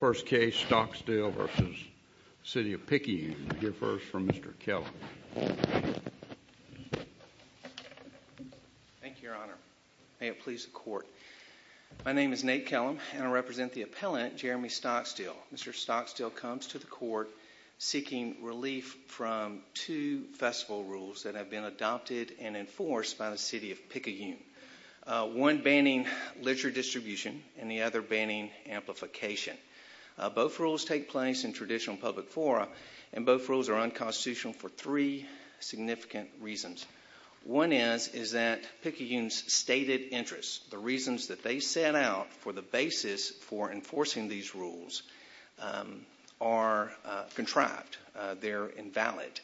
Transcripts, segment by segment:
First case, Stockstill v. City of Picayune. We'll hear first from Mr. Kellum. Thank you, Your Honor. May it please the Court. My name is Nate Kellum, and I represent the appellant, Jeremy Stockstill. Mr. Stockstill comes to the Court seeking relief from two festival rules that have been adopted and enforced by the City of Picayune. One banning literature distribution, and the other banning amplification. Both rules take place in traditional public fora, and both rules are unconstitutional for three significant reasons. One is that Picayune's stated interests, the reasons that they set out for the basis for enforcing these rules, are contrived. They're invalid.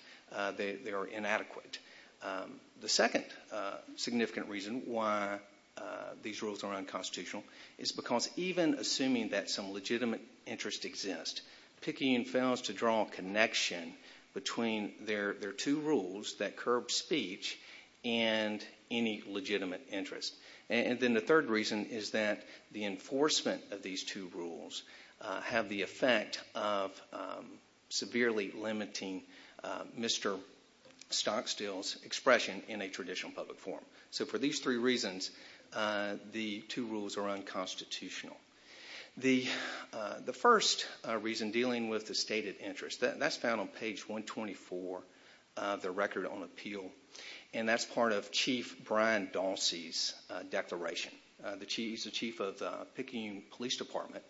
They're inadequate. The second significant reason why these rules are unconstitutional is because even assuming that some legitimate interest exists, Picayune fails to draw a connection between their two rules, that curb speech, and any legitimate interest. And then the third reason is that the enforcement of these two rules have the effect of severely limiting Mr. Stockstill's expression in a traditional public forum. So for these three reasons, the two rules are unconstitutional. The first reason, dealing with the stated interest, that's found on page 124 of the Record on Appeal, and that's part of Chief Brian Dalsey's declaration. He's the chief of the Picayune Police Department,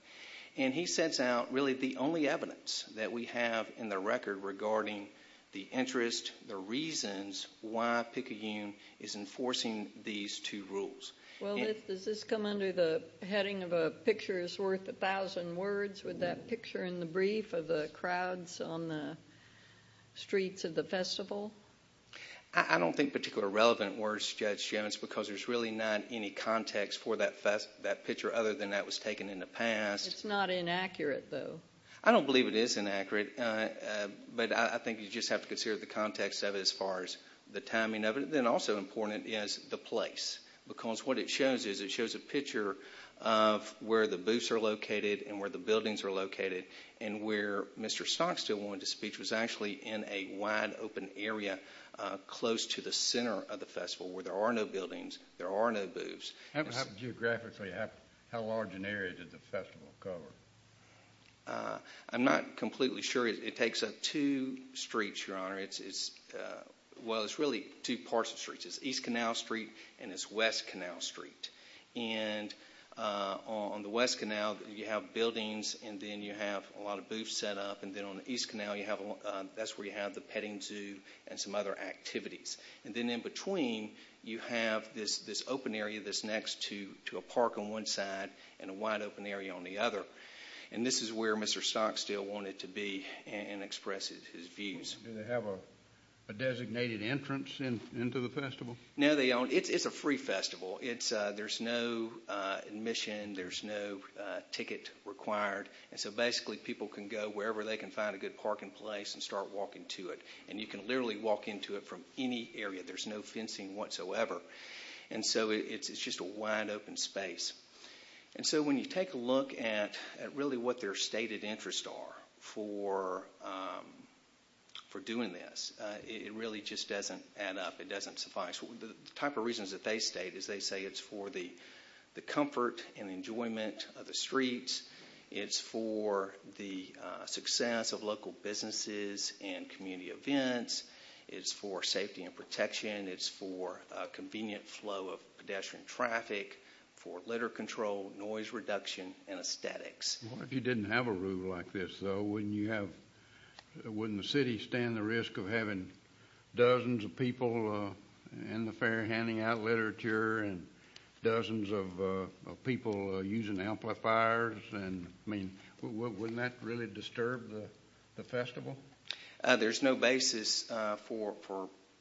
and he sets out really the only evidence that we have in the Record regarding the interest, the reasons, why Picayune is enforcing these two rules. Well, does this come under the heading of a picture is worth a thousand words with that picture in the brief of the crowds on the streets of the festival? I don't think particularly relevant words, Judge Jevons, because there's really not any context for that picture other than that was taken in the past. It's not inaccurate, though. I don't believe it is inaccurate, but I think you just have to consider the context of it as far as the timing of it. Then also important is the place, because what it shows is it shows a picture of where the booths are located and where the buildings are located, and where Mr. Stockstill went to speech was actually in a wide open area close to the center of the festival where there are no buildings, there are no booths. Geographically, how large an area did the festival cover? I'm not completely sure. It takes up two streets, Your Honor. Well, it's really two parts of streets. It's East Canal Street and it's West Canal Street. And on the West Canal you have buildings and then you have a lot of booths set up, and then on the East Canal that's where you have the petting zoo and some other activities. And then in between you have this open area that's next to a park on one side and a wide open area on the other. And this is where Mr. Stockstill wanted to be and express his views. Do they have a designated entrance into the festival? No, it's a free festival. There's no admission, there's no ticket required, and so basically people can go wherever they can find a good parking place and start walking to it. And you can literally walk into it from any area. There's no fencing whatsoever. And so it's just a wide open space. And so when you take a look at really what their stated interests are for doing this, it really just doesn't add up. It doesn't suffice. The type of reasons that they state is they say it's for the comfort and enjoyment of the streets, it's for the success of local businesses and community events, it's for safety and protection, it's for convenient flow of pedestrian traffic, for litter control, noise reduction, and aesthetics. What if you didn't have a rule like this, though? Wouldn't the city stand the risk of having dozens of people in the fair handing out literature and dozens of people using amplifiers? I mean, wouldn't that really disturb the festival? There's no basis for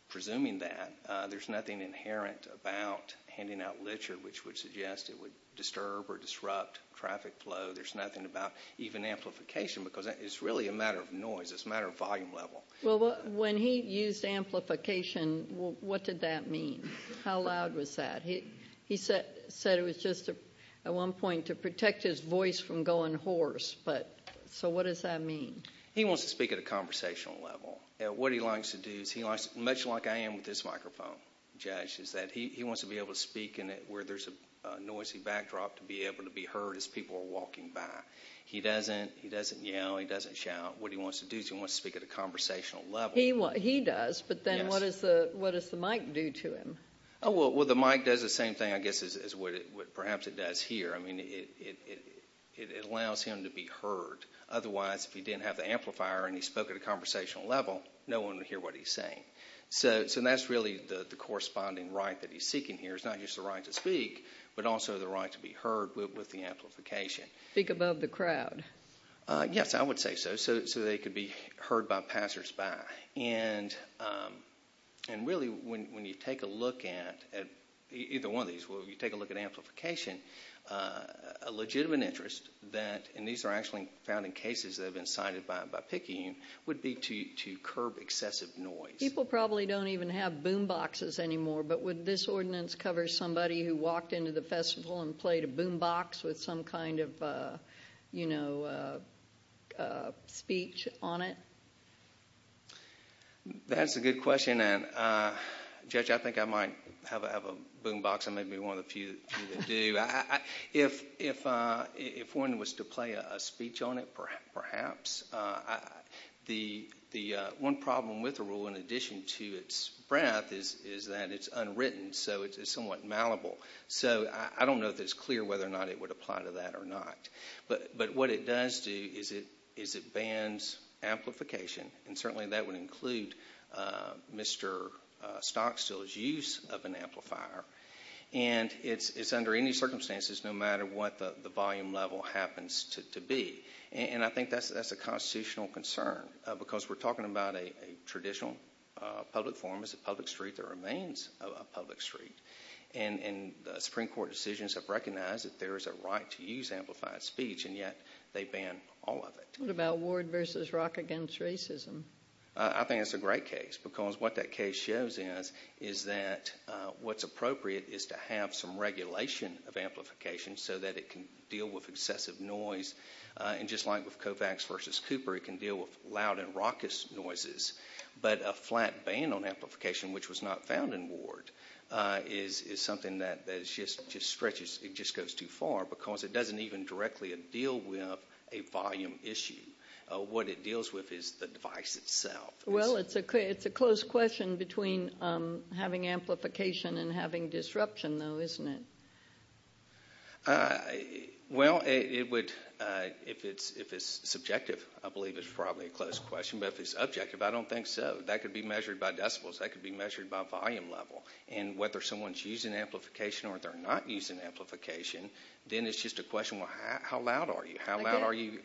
presuming that. There's nothing inherent about handing out literature which would suggest it would disturb or disrupt traffic flow. There's nothing about even amplification because it's really a matter of noise. It's a matter of volume level. Well, when he used amplification, what did that mean? How loud was that? He said it was just at one point to protect his voice from going hoarse. So what does that mean? He wants to speak at a conversational level. What he likes to do, much like I am with this microphone, is that he wants to be able to speak where there's a noisy backdrop to be able to be heard as people are walking by. He doesn't yell, he doesn't shout. What he wants to do is he wants to speak at a conversational level. He does, but then what does the mic do to him? Well, the mic does the same thing, I guess, as perhaps it does here. I mean, it allows him to be heard. Otherwise, if he didn't have the amplifier and he spoke at a conversational level, no one would hear what he's saying. So that's really the corresponding right that he's seeking here. It's not just the right to speak, but also the right to be heard with the amplification. Speak above the crowd. Yes, I would say so, so they could be heard by passers-by. Really, when you take a look at either one of these, when you take a look at amplification, a legitimate interest that, and these are actually found in cases that have been cited by Picayune, would be to curb excessive noise. People probably don't even have boom boxes anymore, but would this ordinance cover somebody who walked into the festival and played a boom box with some kind of speech on it? That's a good question. Judge, I think I might have a boom box. I may be one of the few that do. If one was to play a speech on it, perhaps. One problem with the rule, in addition to its breadth, is that it's unwritten, so it's somewhat malleable. So I don't know if it's clear whether or not it would apply to that or not. But what it does do is it bans amplification, and certainly that would include Mr. Stockstill's use of an amplifier. And it's under any circumstances, no matter what the volume level happens to be. And I think that's a constitutional concern, because we're talking about a traditional public forum. It's a public street that remains a public street. And the Supreme Court decisions have recognized that there is a right to use amplified speech, and yet they ban all of it. What about Ward v. Rock v. Racism? I think that's a great case, because what that case shows us is that what's appropriate is to have some regulation of amplification so that it can deal with excessive noise. And just like with Kovacs v. Cooper, it can deal with loud and raucous noises. But a flat ban on amplification, which was not found in Ward, is something that just goes too far, because it doesn't even directly deal with a volume issue. What it deals with is the device itself. Well, it's a close question between having amplification and having disruption, though, isn't it? Well, if it's subjective, I believe it's probably a close question. But if it's objective, I don't think so. That could be measured by decibels. That could be measured by volume level. And whether someone's using amplification or they're not using amplification, then it's just a question, well, how loud are you? How loud are you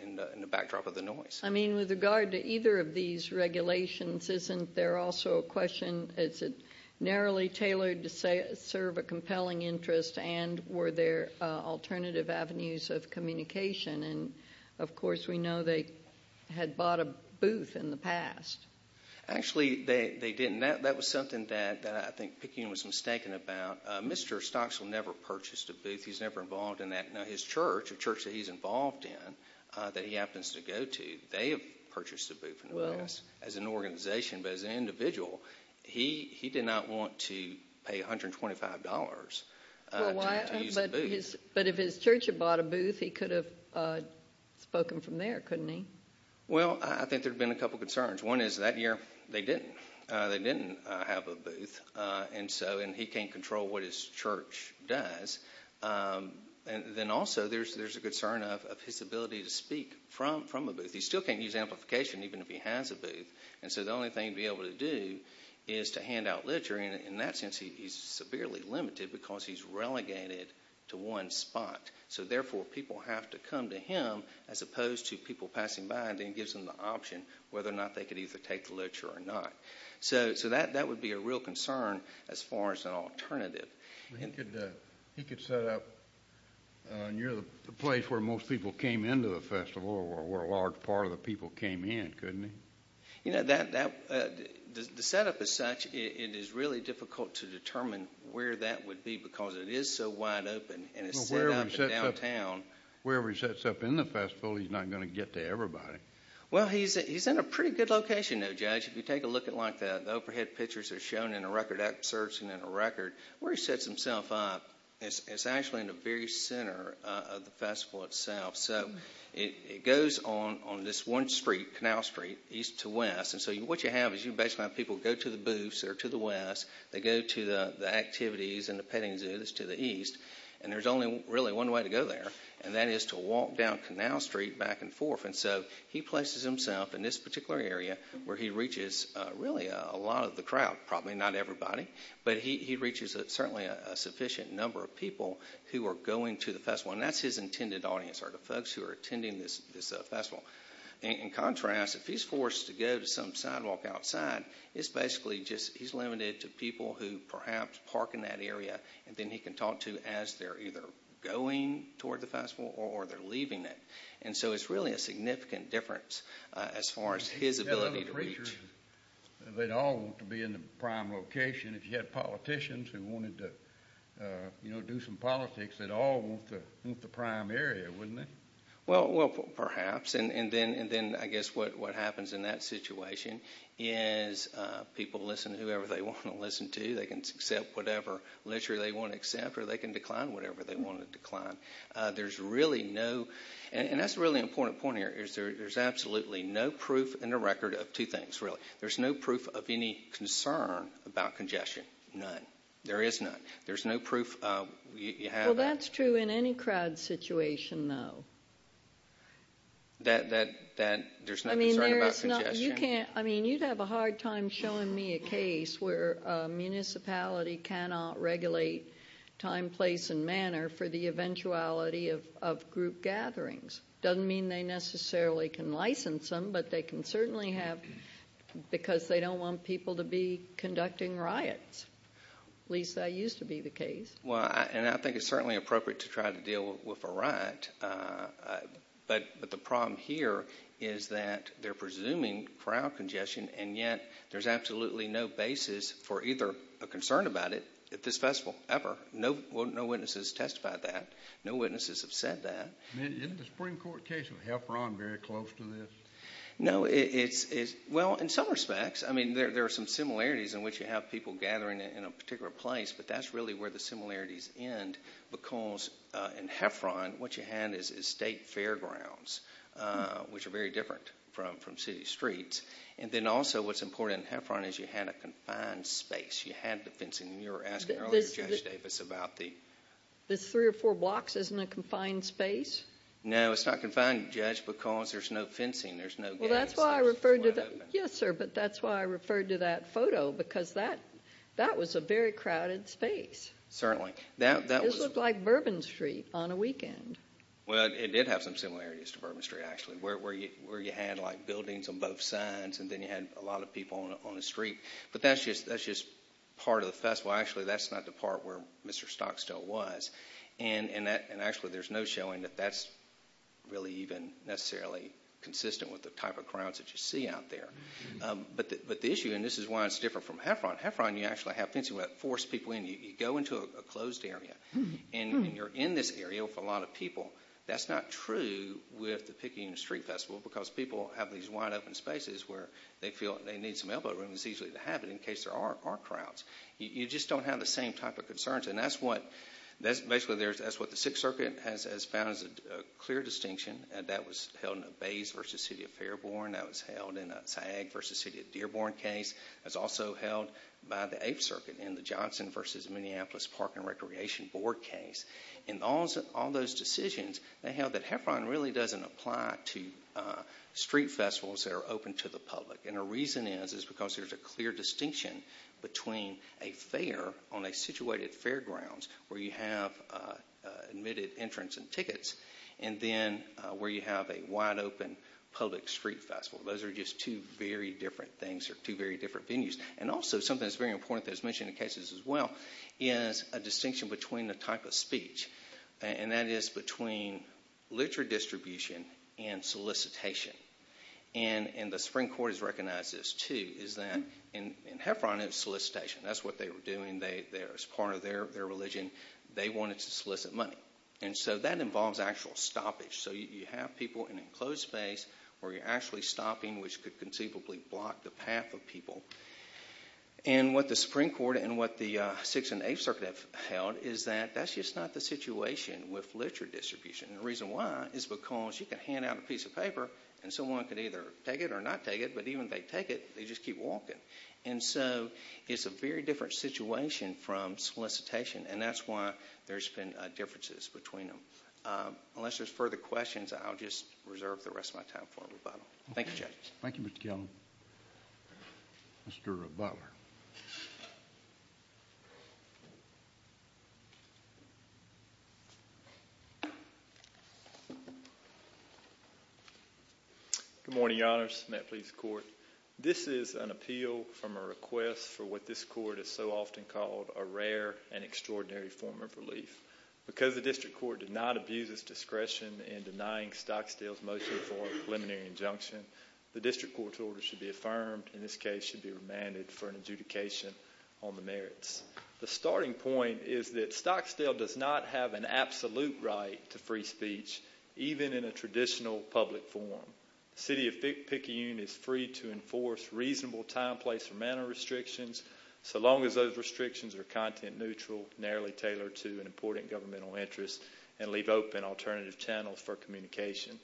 in the backdrop of the noise? I mean, with regard to either of these regulations, isn't there also a question, is it narrowly tailored to serve a compelling interest and were there alternative avenues of communication? And, of course, we know they had bought a booth in the past. Actually, they didn't. That was something that I think Peking was mistaken about. Mr. Stocksville never purchased a booth. He's never involved in that. Now, his church, the church that he's involved in, that he happens to go to, they have purchased a booth in the past as an organization. But as an individual, he did not want to pay $125 to use the booth. But if his church had bought a booth, he could have spoken from there, couldn't he? Well, I think there have been a couple concerns. One is that year they didn't. They didn't have a booth. And he can't control what his church does. Then also there's a concern of his ability to speak from a booth. He still can't use amplification even if he has a booth. And so the only thing he'd be able to do is to hand out literature. In that sense, he's severely limited because he's relegated to one spot. So, therefore, people have to come to him as opposed to people passing by and then gives them the option whether or not they could either take the literature or not. So that would be a real concern as far as an alternative. He could set up near the place where most people came into the festival or where a large part of the people came in, couldn't he? You know, the setup is such it is really difficult to determine where that would be because it is so wide open and it's set up in downtown. Well, wherever he sets up in the festival, he's not going to get to everybody. Well, he's in a pretty good location, though, Judge. If you take a look at it like that, the overhead pictures are shown in a record. That serves him in a record. Where he sets himself up, it's actually in the very center of the festival itself. So it goes on this one street, Canal Street, east to west. And so what you have is you basically have people go to the booths that are to the west. They go to the activities and the petting zoos to the east. And there's only really one way to go there, and that is to walk down Canal Street back and forth. And so he places himself in this particular area where he reaches really a lot of the crowd, probably not everybody, but he reaches certainly a sufficient number of people who are going to the festival. And that's his intended audience are the folks who are attending this festival. In contrast, if he's forced to go to some sidewalk outside, it's basically just he's limited to people who perhaps park in that area and then he can talk to as they're either going toward the festival or they're leaving it. And so it's really a significant difference as far as his ability to reach. They'd all want to be in the prime location. And if you had politicians who wanted to do some politics, they'd all want the prime area, wouldn't they? Well, perhaps. And then I guess what happens in that situation is people listen to whoever they want to listen to. They can accept whatever literature they want to accept or they can decline whatever they want to decline. There's really no, and that's a really important point here, is there's absolutely no proof in the record of two things, really. There's no proof of any concern about congestion. None. There is none. There's no proof. Well, that's true in any crowd situation, though. That there's no concern about congestion. I mean, you'd have a hard time showing me a case where a municipality cannot regulate time, place, and manner for the eventuality of group gatherings. It doesn't mean they necessarily can license them, but they can certainly have because they don't want people to be conducting riots. At least that used to be the case. Well, and I think it's certainly appropriate to try to deal with a riot, but the problem here is that they're presuming crowd congestion and yet there's absolutely no basis for either a concern about it at this festival ever. No witnesses testified that. No witnesses have said that. Isn't the Supreme Court case of Heffron very close to this? No. Well, in some respects. I mean, there are some similarities in which you have people gathering in a particular place, but that's really where the similarities end because in Heffron what you had is state fairgrounds, which are very different from city streets. And then also what's important in Heffron is you had a confined space. You had the fencing. You were asking earlier, Judge Davis, about the— Mr. Stocks is in a confined space? No, it's not confined, Judge, because there's no fencing. There's no gates. Well, that's why I referred to that. Yes, sir, but that's why I referred to that photo because that was a very crowded space. Certainly. This looked like Bourbon Street on a weekend. Well, it did have some similarities to Bourbon Street, actually, where you had like buildings on both sides and then you had a lot of people on the street. But that's just part of the festival. Actually, that's not the part where Mr. Stocks still was. And actually there's no showing that that's really even necessarily consistent with the type of crowds that you see out there. But the issue, and this is why it's different from Heffron, Heffron you actually have fencing where you force people in. You go into a closed area. And you're in this area with a lot of people. That's not true with the Picayune Street Festival because people have these wide open spaces where they feel they need some elbow room. It's easy to have it in case there are crowds. You just don't have the same type of concerns. And that's what the Sixth Circuit has found as a clear distinction. That was held in a Bays v. City of Fairbourn. That was held in a Saag v. City of Dearborn case. That was also held by the Eighth Circuit in the Johnson v. Minneapolis Park and Recreation Board case. In all those decisions, they held that Heffron really doesn't apply to street festivals that are open to the public. And the reason is because there's a clear distinction between a fair on a situated fairground where you have admitted entrants and tickets, and then where you have a wide open public street festival. Those are just two very different things or two very different venues. And also something that's very important that's mentioned in cases as well is a distinction between the type of speech. And that is between literature distribution and solicitation. And the Supreme Court has recognized this, too, is that in Heffron it's solicitation. That's what they were doing as part of their religion. They wanted to solicit money. And so that involves actual stoppage. So you have people in an enclosed space where you're actually stopping, which could conceivably block the path of people. And what the Supreme Court and what the Sixth and Eighth Circuit have held is that that's just not the situation with literature distribution. And the reason why is because you can hand out a piece of paper and someone could either take it or not take it, but even if they take it they just keep walking. And so it's a very different situation from solicitation, and that's why there's been differences between them. Unless there's further questions, I'll just reserve the rest of my time for rebuttal. Thank you, judges. Thank you, Mr. Kelley. Mr. Butler. Good morning, Your Honors. May it please the Court. This is an appeal from a request for what this Court has so often called a rare and extraordinary form of relief. Because the District Court did not abuse its discretion in denying Stocksdale's motion for a preliminary injunction, the District Court's order should be affirmed, in this case should be remanded for an adjudication on the merits. The starting point is that Stocksdale does not have an absolute right to free speech, even in a traditional public forum. The City of Picayune is free to enforce reasonable time, place, or manner restrictions so long as those restrictions are content neutral, narrowly tailored to an important governmental interest, and leave open alternative channels for communication.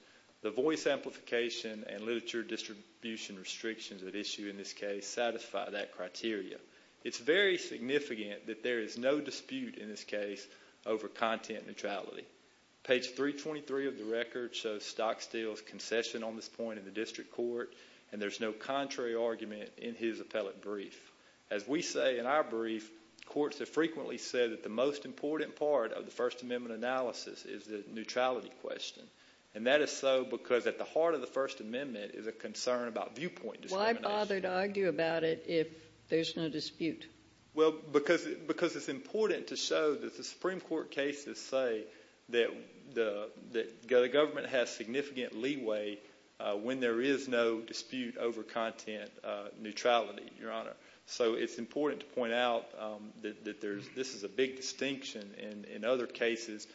The voice amplification and literature distribution restrictions at issue in this case satisfy that criteria. It's very significant that there is no dispute in this case over content neutrality. Page 323 of the record shows Stocksdale's concession on this point in the District Court, and there's no contrary argument in his appellate brief. As we say in our brief, courts have frequently said that the most important part of the First Amendment analysis is the neutrality question. And that is so because at the heart of the First Amendment is a concern about viewpoint discrimination. Why bother to argue about it if there's no dispute? Well, because it's important to show that the Supreme Court cases say that the government has significant leeway when there is no dispute over content neutrality, Your Honor. So it's important to point out that this is a big distinction in other cases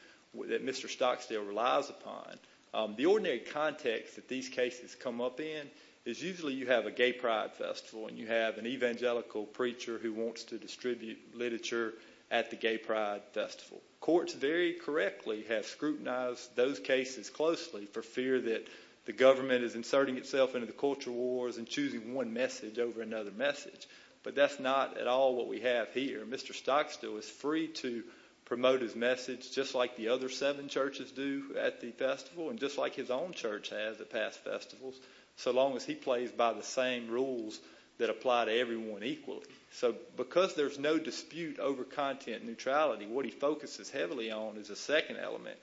that Mr. Stocksdale relies upon. The ordinary context that these cases come up in is usually you have a gay pride festival and you have an evangelical preacher who wants to distribute literature at the gay pride festival. Courts very correctly have scrutinized those cases closely for fear that the government is inserting itself into the culture wars and choosing one message over another message. But that's not at all what we have here. Mr. Stocksdale is free to promote his message just like the other seven churches do at the festival and just like his own church has at past festivals, so long as he plays by the same rules that apply to everyone equally. So because there's no dispute over content neutrality, what he focuses heavily on is a second element,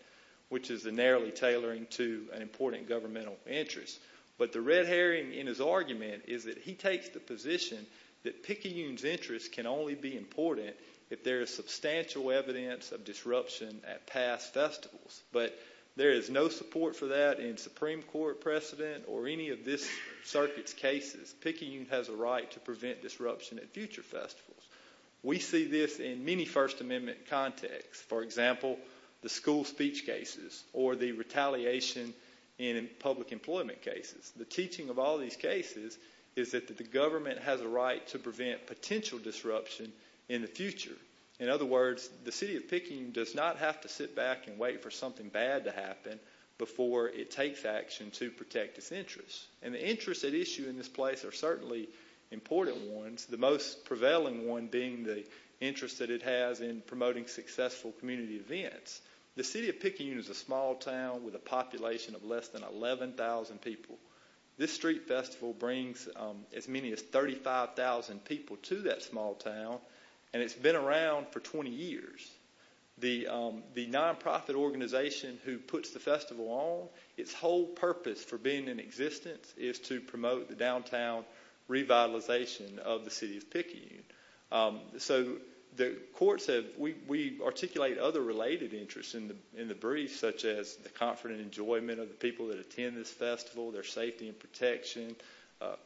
which is the narrowly tailoring to an important governmental interest. But the red herring in his argument is that he takes the position that Picayune's interest can only be important if there is substantial evidence of disruption at past festivals. But there is no support for that in Supreme Court precedent or any of this circuit's cases. Picayune has a right to prevent disruption at future festivals. We see this in many First Amendment contexts, for example, the school speech cases or the retaliation in public employment cases. The teaching of all these cases is that the government has a right to prevent potential disruption in the future. In other words, the city of Picayune does not have to sit back and wait for something bad to happen before it takes action to protect its interests. And the interests at issue in this place are certainly important ones, the most prevailing one being the interest that it has in promoting successful community events. The city of Picayune is a small town with a population of less than 11,000 people. This street festival brings as many as 35,000 people to that small town, and it's been around for 20 years. The nonprofit organization who puts the festival on, its whole purpose for being in existence is to promote the downtown revitalization of the city of Picayune. So the courts have... We articulate other related interests in the brief, such as the comfort and enjoyment of the people that attend this festival, their safety and protection,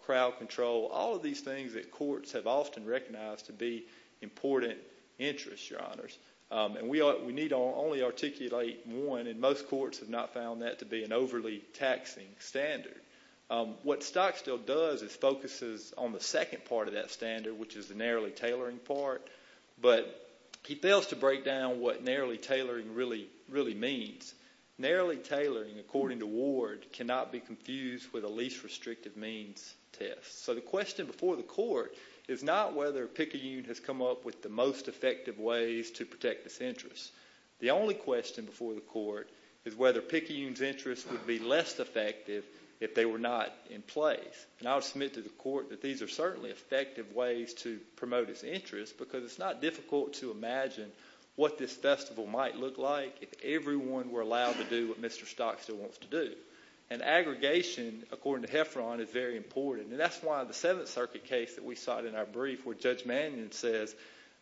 crowd control, all of these things that courts have often recognized to be important interests, Your Honors. And we need only articulate one, and most courts have not found that to be an overly taxing standard. What Stocksdale does is focuses on the second part of that standard, which is the narrowly tailoring part, but he fails to break down what narrowly tailoring really means. Narrowly tailoring, according to Ward, cannot be confused with a least restrictive means test. So the question before the court is not whether Picayune has come up with the most effective ways to protect its interests. The only question before the court is whether Picayune's interests would be less effective if they were not in place. And I would submit to the court that these are certainly effective ways to promote its interests because it's not difficult to imagine what this festival might look like if everyone were allowed to do what Mr. Stocksdale wants to do. And aggregation, according to Hefferon, is very important, and that's why the 7th Circuit case that we cite in our brief where Judge Mannion says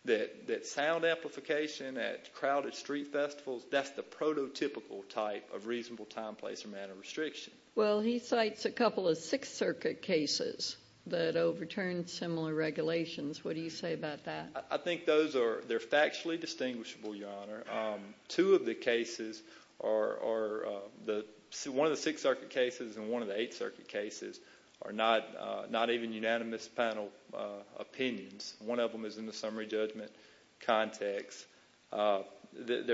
that sound amplification at crowded street festivals, that's the prototypical type of reasonable time, place, or manner restriction. Well, he cites a couple of 6th Circuit cases that overturned similar regulations. What do you say about that? I think they're factually distinguishable, Your Honor. Two of the cases are one of the 6th Circuit cases and one of the 8th Circuit cases are not even unanimous panel opinions. One of them is in the summary judgment context. I think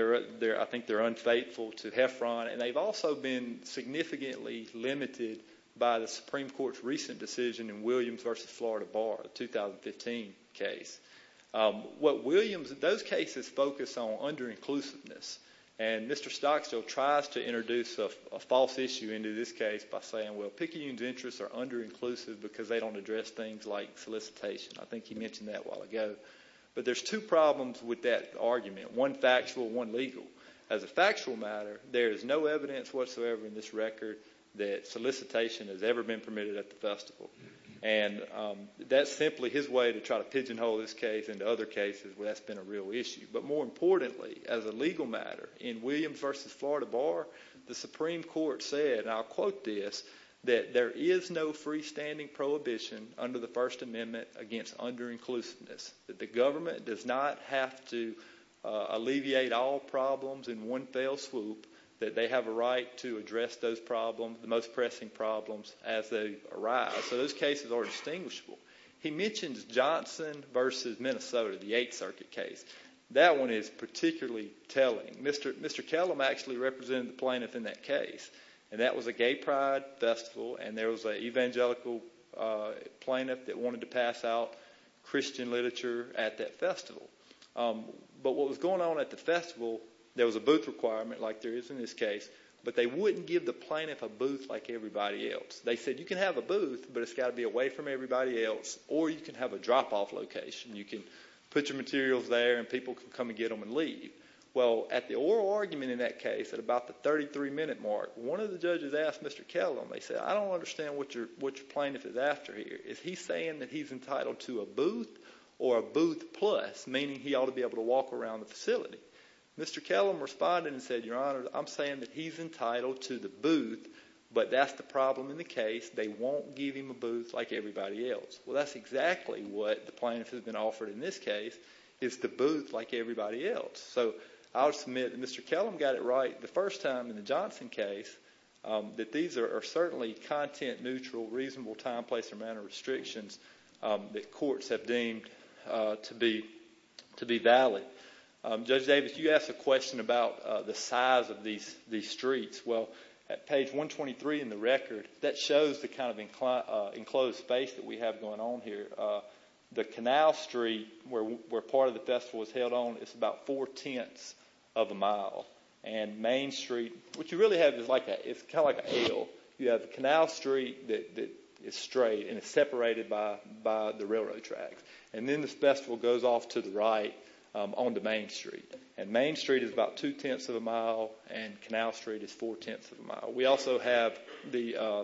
they're unfaithful to Hefferon, and they've also been significantly limited by the Supreme Court's recent decision in Williams v. Florida Bar, the 2015 case. Those cases focus on under-inclusiveness, and Mr. Stocksdale tries to introduce a false issue into this case by saying, well, Picayune's interests are under-inclusive because they don't address things like solicitation. I think he mentioned that a while ago. But there's two problems with that argument, one factual and one legal. As a factual matter, there is no evidence whatsoever in this record that solicitation has ever been permitted at the festival. And that's simply his way to try to pigeonhole this case into other cases where that's been a real issue. But more importantly, as a legal matter, in Williams v. Florida Bar, the Supreme Court said, and I'll quote this, that there is no freestanding prohibition under the First Amendment against under-inclusiveness, that the government does not have to alleviate all problems in one fell swoop, that they have a right to address those problems, the most pressing problems, as they arise. So those cases are distinguishable. He mentions Johnson v. Minnesota, the Eighth Circuit case. That one is particularly telling. Mr. Kellum actually represented the plaintiff in that case, and that was a gay pride festival, and there was an evangelical plaintiff that wanted to pass out Christian literature at that festival. But what was going on at the festival, there was a booth requirement like there is in this case, but they wouldn't give the plaintiff a booth like everybody else. They said, you can have a booth, but it's got to be away from everybody else, or you can have a drop-off location. You can put your materials there, and people can come and get them and leave. Well, at the oral argument in that case, at about the 33-minute mark, one of the judges asked Mr. Kellum, they said, I don't understand what your plaintiff is after here. Is he saying that he's entitled to a booth or a booth plus, meaning he ought to be able to walk around the facility? Mr. Kellum responded and said, Your Honor, I'm saying that he's entitled to the booth, but that's the problem in the case. They won't give him a booth like everybody else. Well, that's exactly what the plaintiff has been offered in this case is the booth like everybody else. So I'll submit that Mr. Kellum got it right the first time in the Johnson case that these are certainly content-neutral, reasonable time, place, and amount of restrictions that courts have deemed to be valid. Judge Davis, you asked a question about the size of these streets. Well, at page 123 in the record, that shows the kind of enclosed space that we have going on here. The Canal Street, where part of the festival is held on, is about four-tenths of a mile. And Main Street, what you really have is kind of like a hill. You have the Canal Street that is straight and is separated by the railroad tracks. And then the festival goes off to the right onto Main Street. And Main Street is about two-tenths of a mile, and Canal Street is four-tenths of a mile. We also have the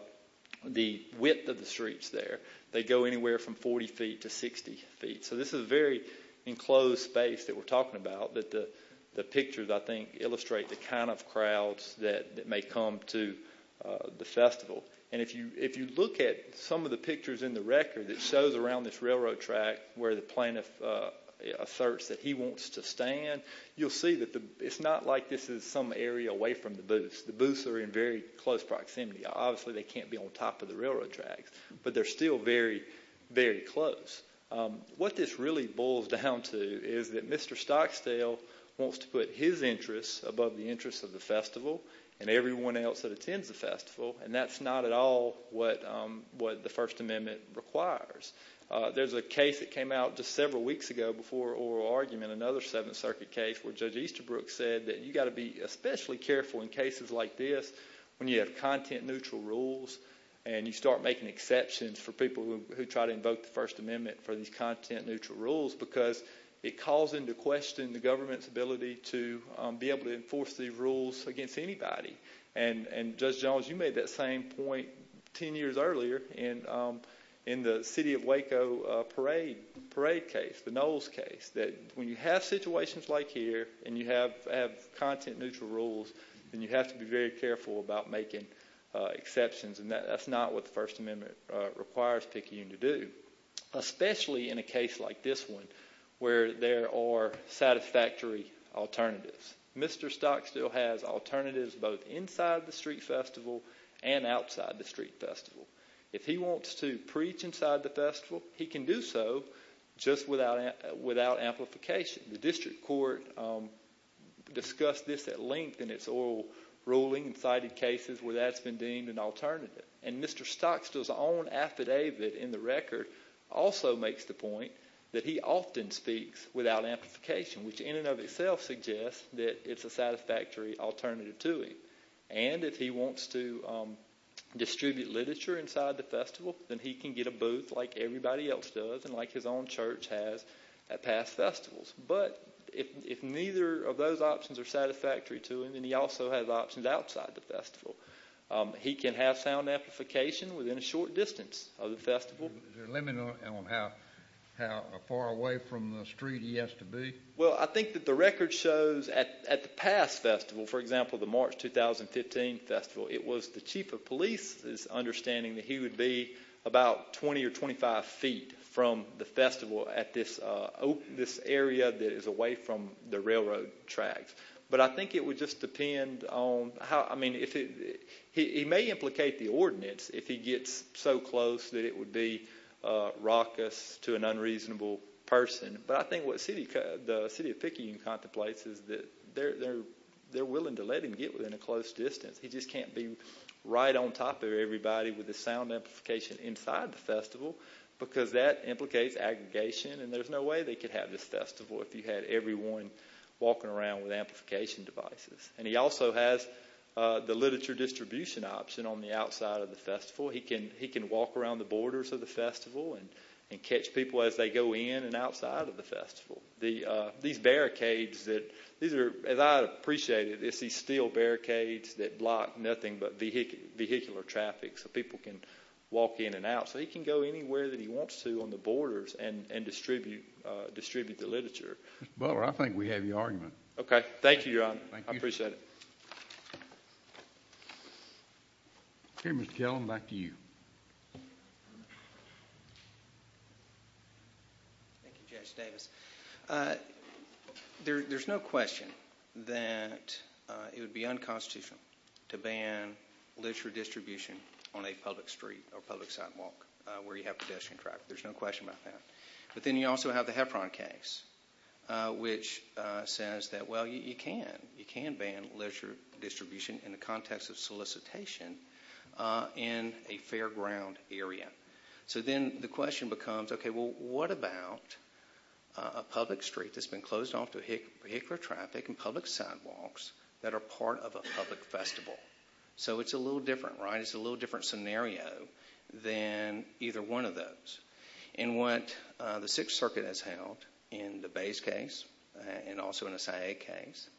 width of the streets there. They go anywhere from 40 feet to 60 feet. So this is a very enclosed space that we're talking about that the pictures, I think, illustrate the kind of crowds that may come to the festival. And if you look at some of the pictures in the record that shows around this railroad track where the plaintiff asserts that he wants to stand, you'll see that it's not like this is some area away from the booths. The booths are in very close proximity. Obviously, they can't be on top of the railroad tracks, but they're still very, very close. What this really boils down to is that Mr. Stockdale wants to put his interests above the interests of the festival and everyone else that attends the festival, and that's not at all what the First Amendment requires. There's a case that came out just several weeks ago before oral argument, another Seventh Circuit case, where Judge Easterbrook said that you've got to be especially careful in cases like this when you have content-neutral rules and you start making exceptions for people who try to invoke the First Amendment for these content-neutral rules because it calls into question the government's ability to be able to enforce these rules against anybody. And, Judge Jones, you made that same point 10 years earlier in the City of Waco parade case, the Knowles case, that when you have situations like here and you have content-neutral rules, then you have to be very careful about making exceptions, and that's not what the First Amendment requires PICU to do, especially in a case like this one where there are satisfactory alternatives. Mr. Stockdale has alternatives both inside the street festival and outside the street festival. If he wants to preach inside the festival, he can do so just without amplification. The district court discussed this at length in its oral ruling and cited cases where that's been deemed an alternative. And Mr. Stockdale's own affidavit in the record also makes the point that he often speaks without amplification, which in and of itself suggests that it's a satisfactory alternative to it. And if he wants to distribute literature inside the festival, then he can get a booth like everybody else does and like his own church has at past festivals. But if neither of those options are satisfactory to him, then he also has options outside the festival. He can have sound amplification within a short distance of the festival. Is there a limit on how far away from the street he has to be? Well, I think that the record shows at the past festival, for example, the March 2015 festival, it was the chief of police's understanding that he would be about 20 or 25 feet from the festival at this area that is away from the railroad tracks. But I think it would just depend on how... I mean, he may implicate the ordinance if he gets so close that it would be raucous to an unreasonable person. But I think what the city of Pickingham contemplates is that they're willing to let him get within a close distance. He just can't be right on top of everybody with the sound amplification inside the festival because that implicates aggregation and there's no way they could have this festival if you had everyone walking around with amplification devices. And he also has the literature distribution option on the outside of the festival. He can walk around the borders of the festival and catch people as they go in and outside of the festival. These barricades that... As I appreciate it, it's these steel barricades that block nothing but vehicular traffic so people can walk in and out. So he can go anywhere that he wants to on the borders and distribute the literature. Mr. Butler, I think we have your argument. Okay. Thank you, Your Honor. I appreciate it. Okay, Mr. Kellen, back to you. Thank you, Judge Davis. There's no question that it would be unconstitutional to ban literature distribution on a public street or public sidewalk where you have pedestrian traffic. There's no question about that. But then you also have the Heffron case, which says that, well, you can. You can ban literature distribution in the context of solicitation in a fairground area. So then the question becomes, okay, well, what about a public street that's been closed off to vehicular traffic and public sidewalks that are part of a public festival? So it's a little different, right? than either one of those. And what the Sixth Circuit has held in the Bays case and also in the SIA case,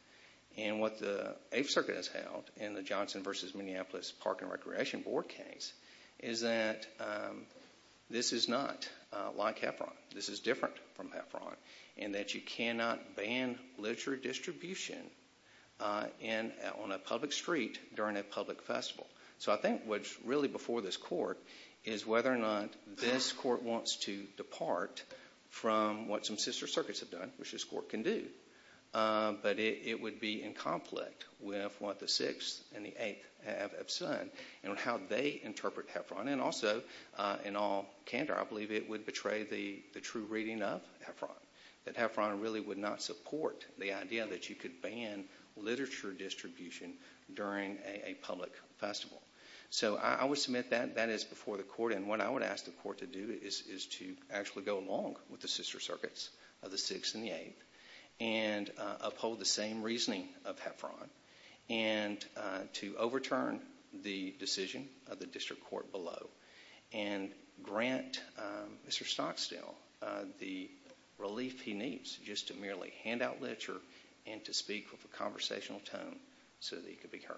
and what the Eighth Circuit has held in the Johnson v. Minneapolis Park and Recreation Board case is that this is not like Heffron. This is different from Heffron in that you cannot ban literature distribution on a public street during a public festival. So I think what's really before this court is whether or not this court wants to depart from what some sister circuits have done, which this court can do. But it would be in conflict with what the Sixth and the Eighth have said and how they interpret Heffron. And also, in all candor, I believe it would betray the true reading of Heffron, that Heffron really would not support the idea that you could ban literature distribution during a public festival. So I would submit that that is before the court, and what I would ask the court to do is to actually go along with the sister circuits of the Sixth and the Eighth and uphold the same reasoning of Heffron and to overturn the decision of the district court below and grant Mr. Stocksdale the relief he needs just to merely hand out literature and to speak with a conversational tone so that he could be heard.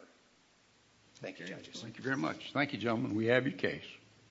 Thank you, judges. Thank you very much. Thank you, gentlemen. We have your case.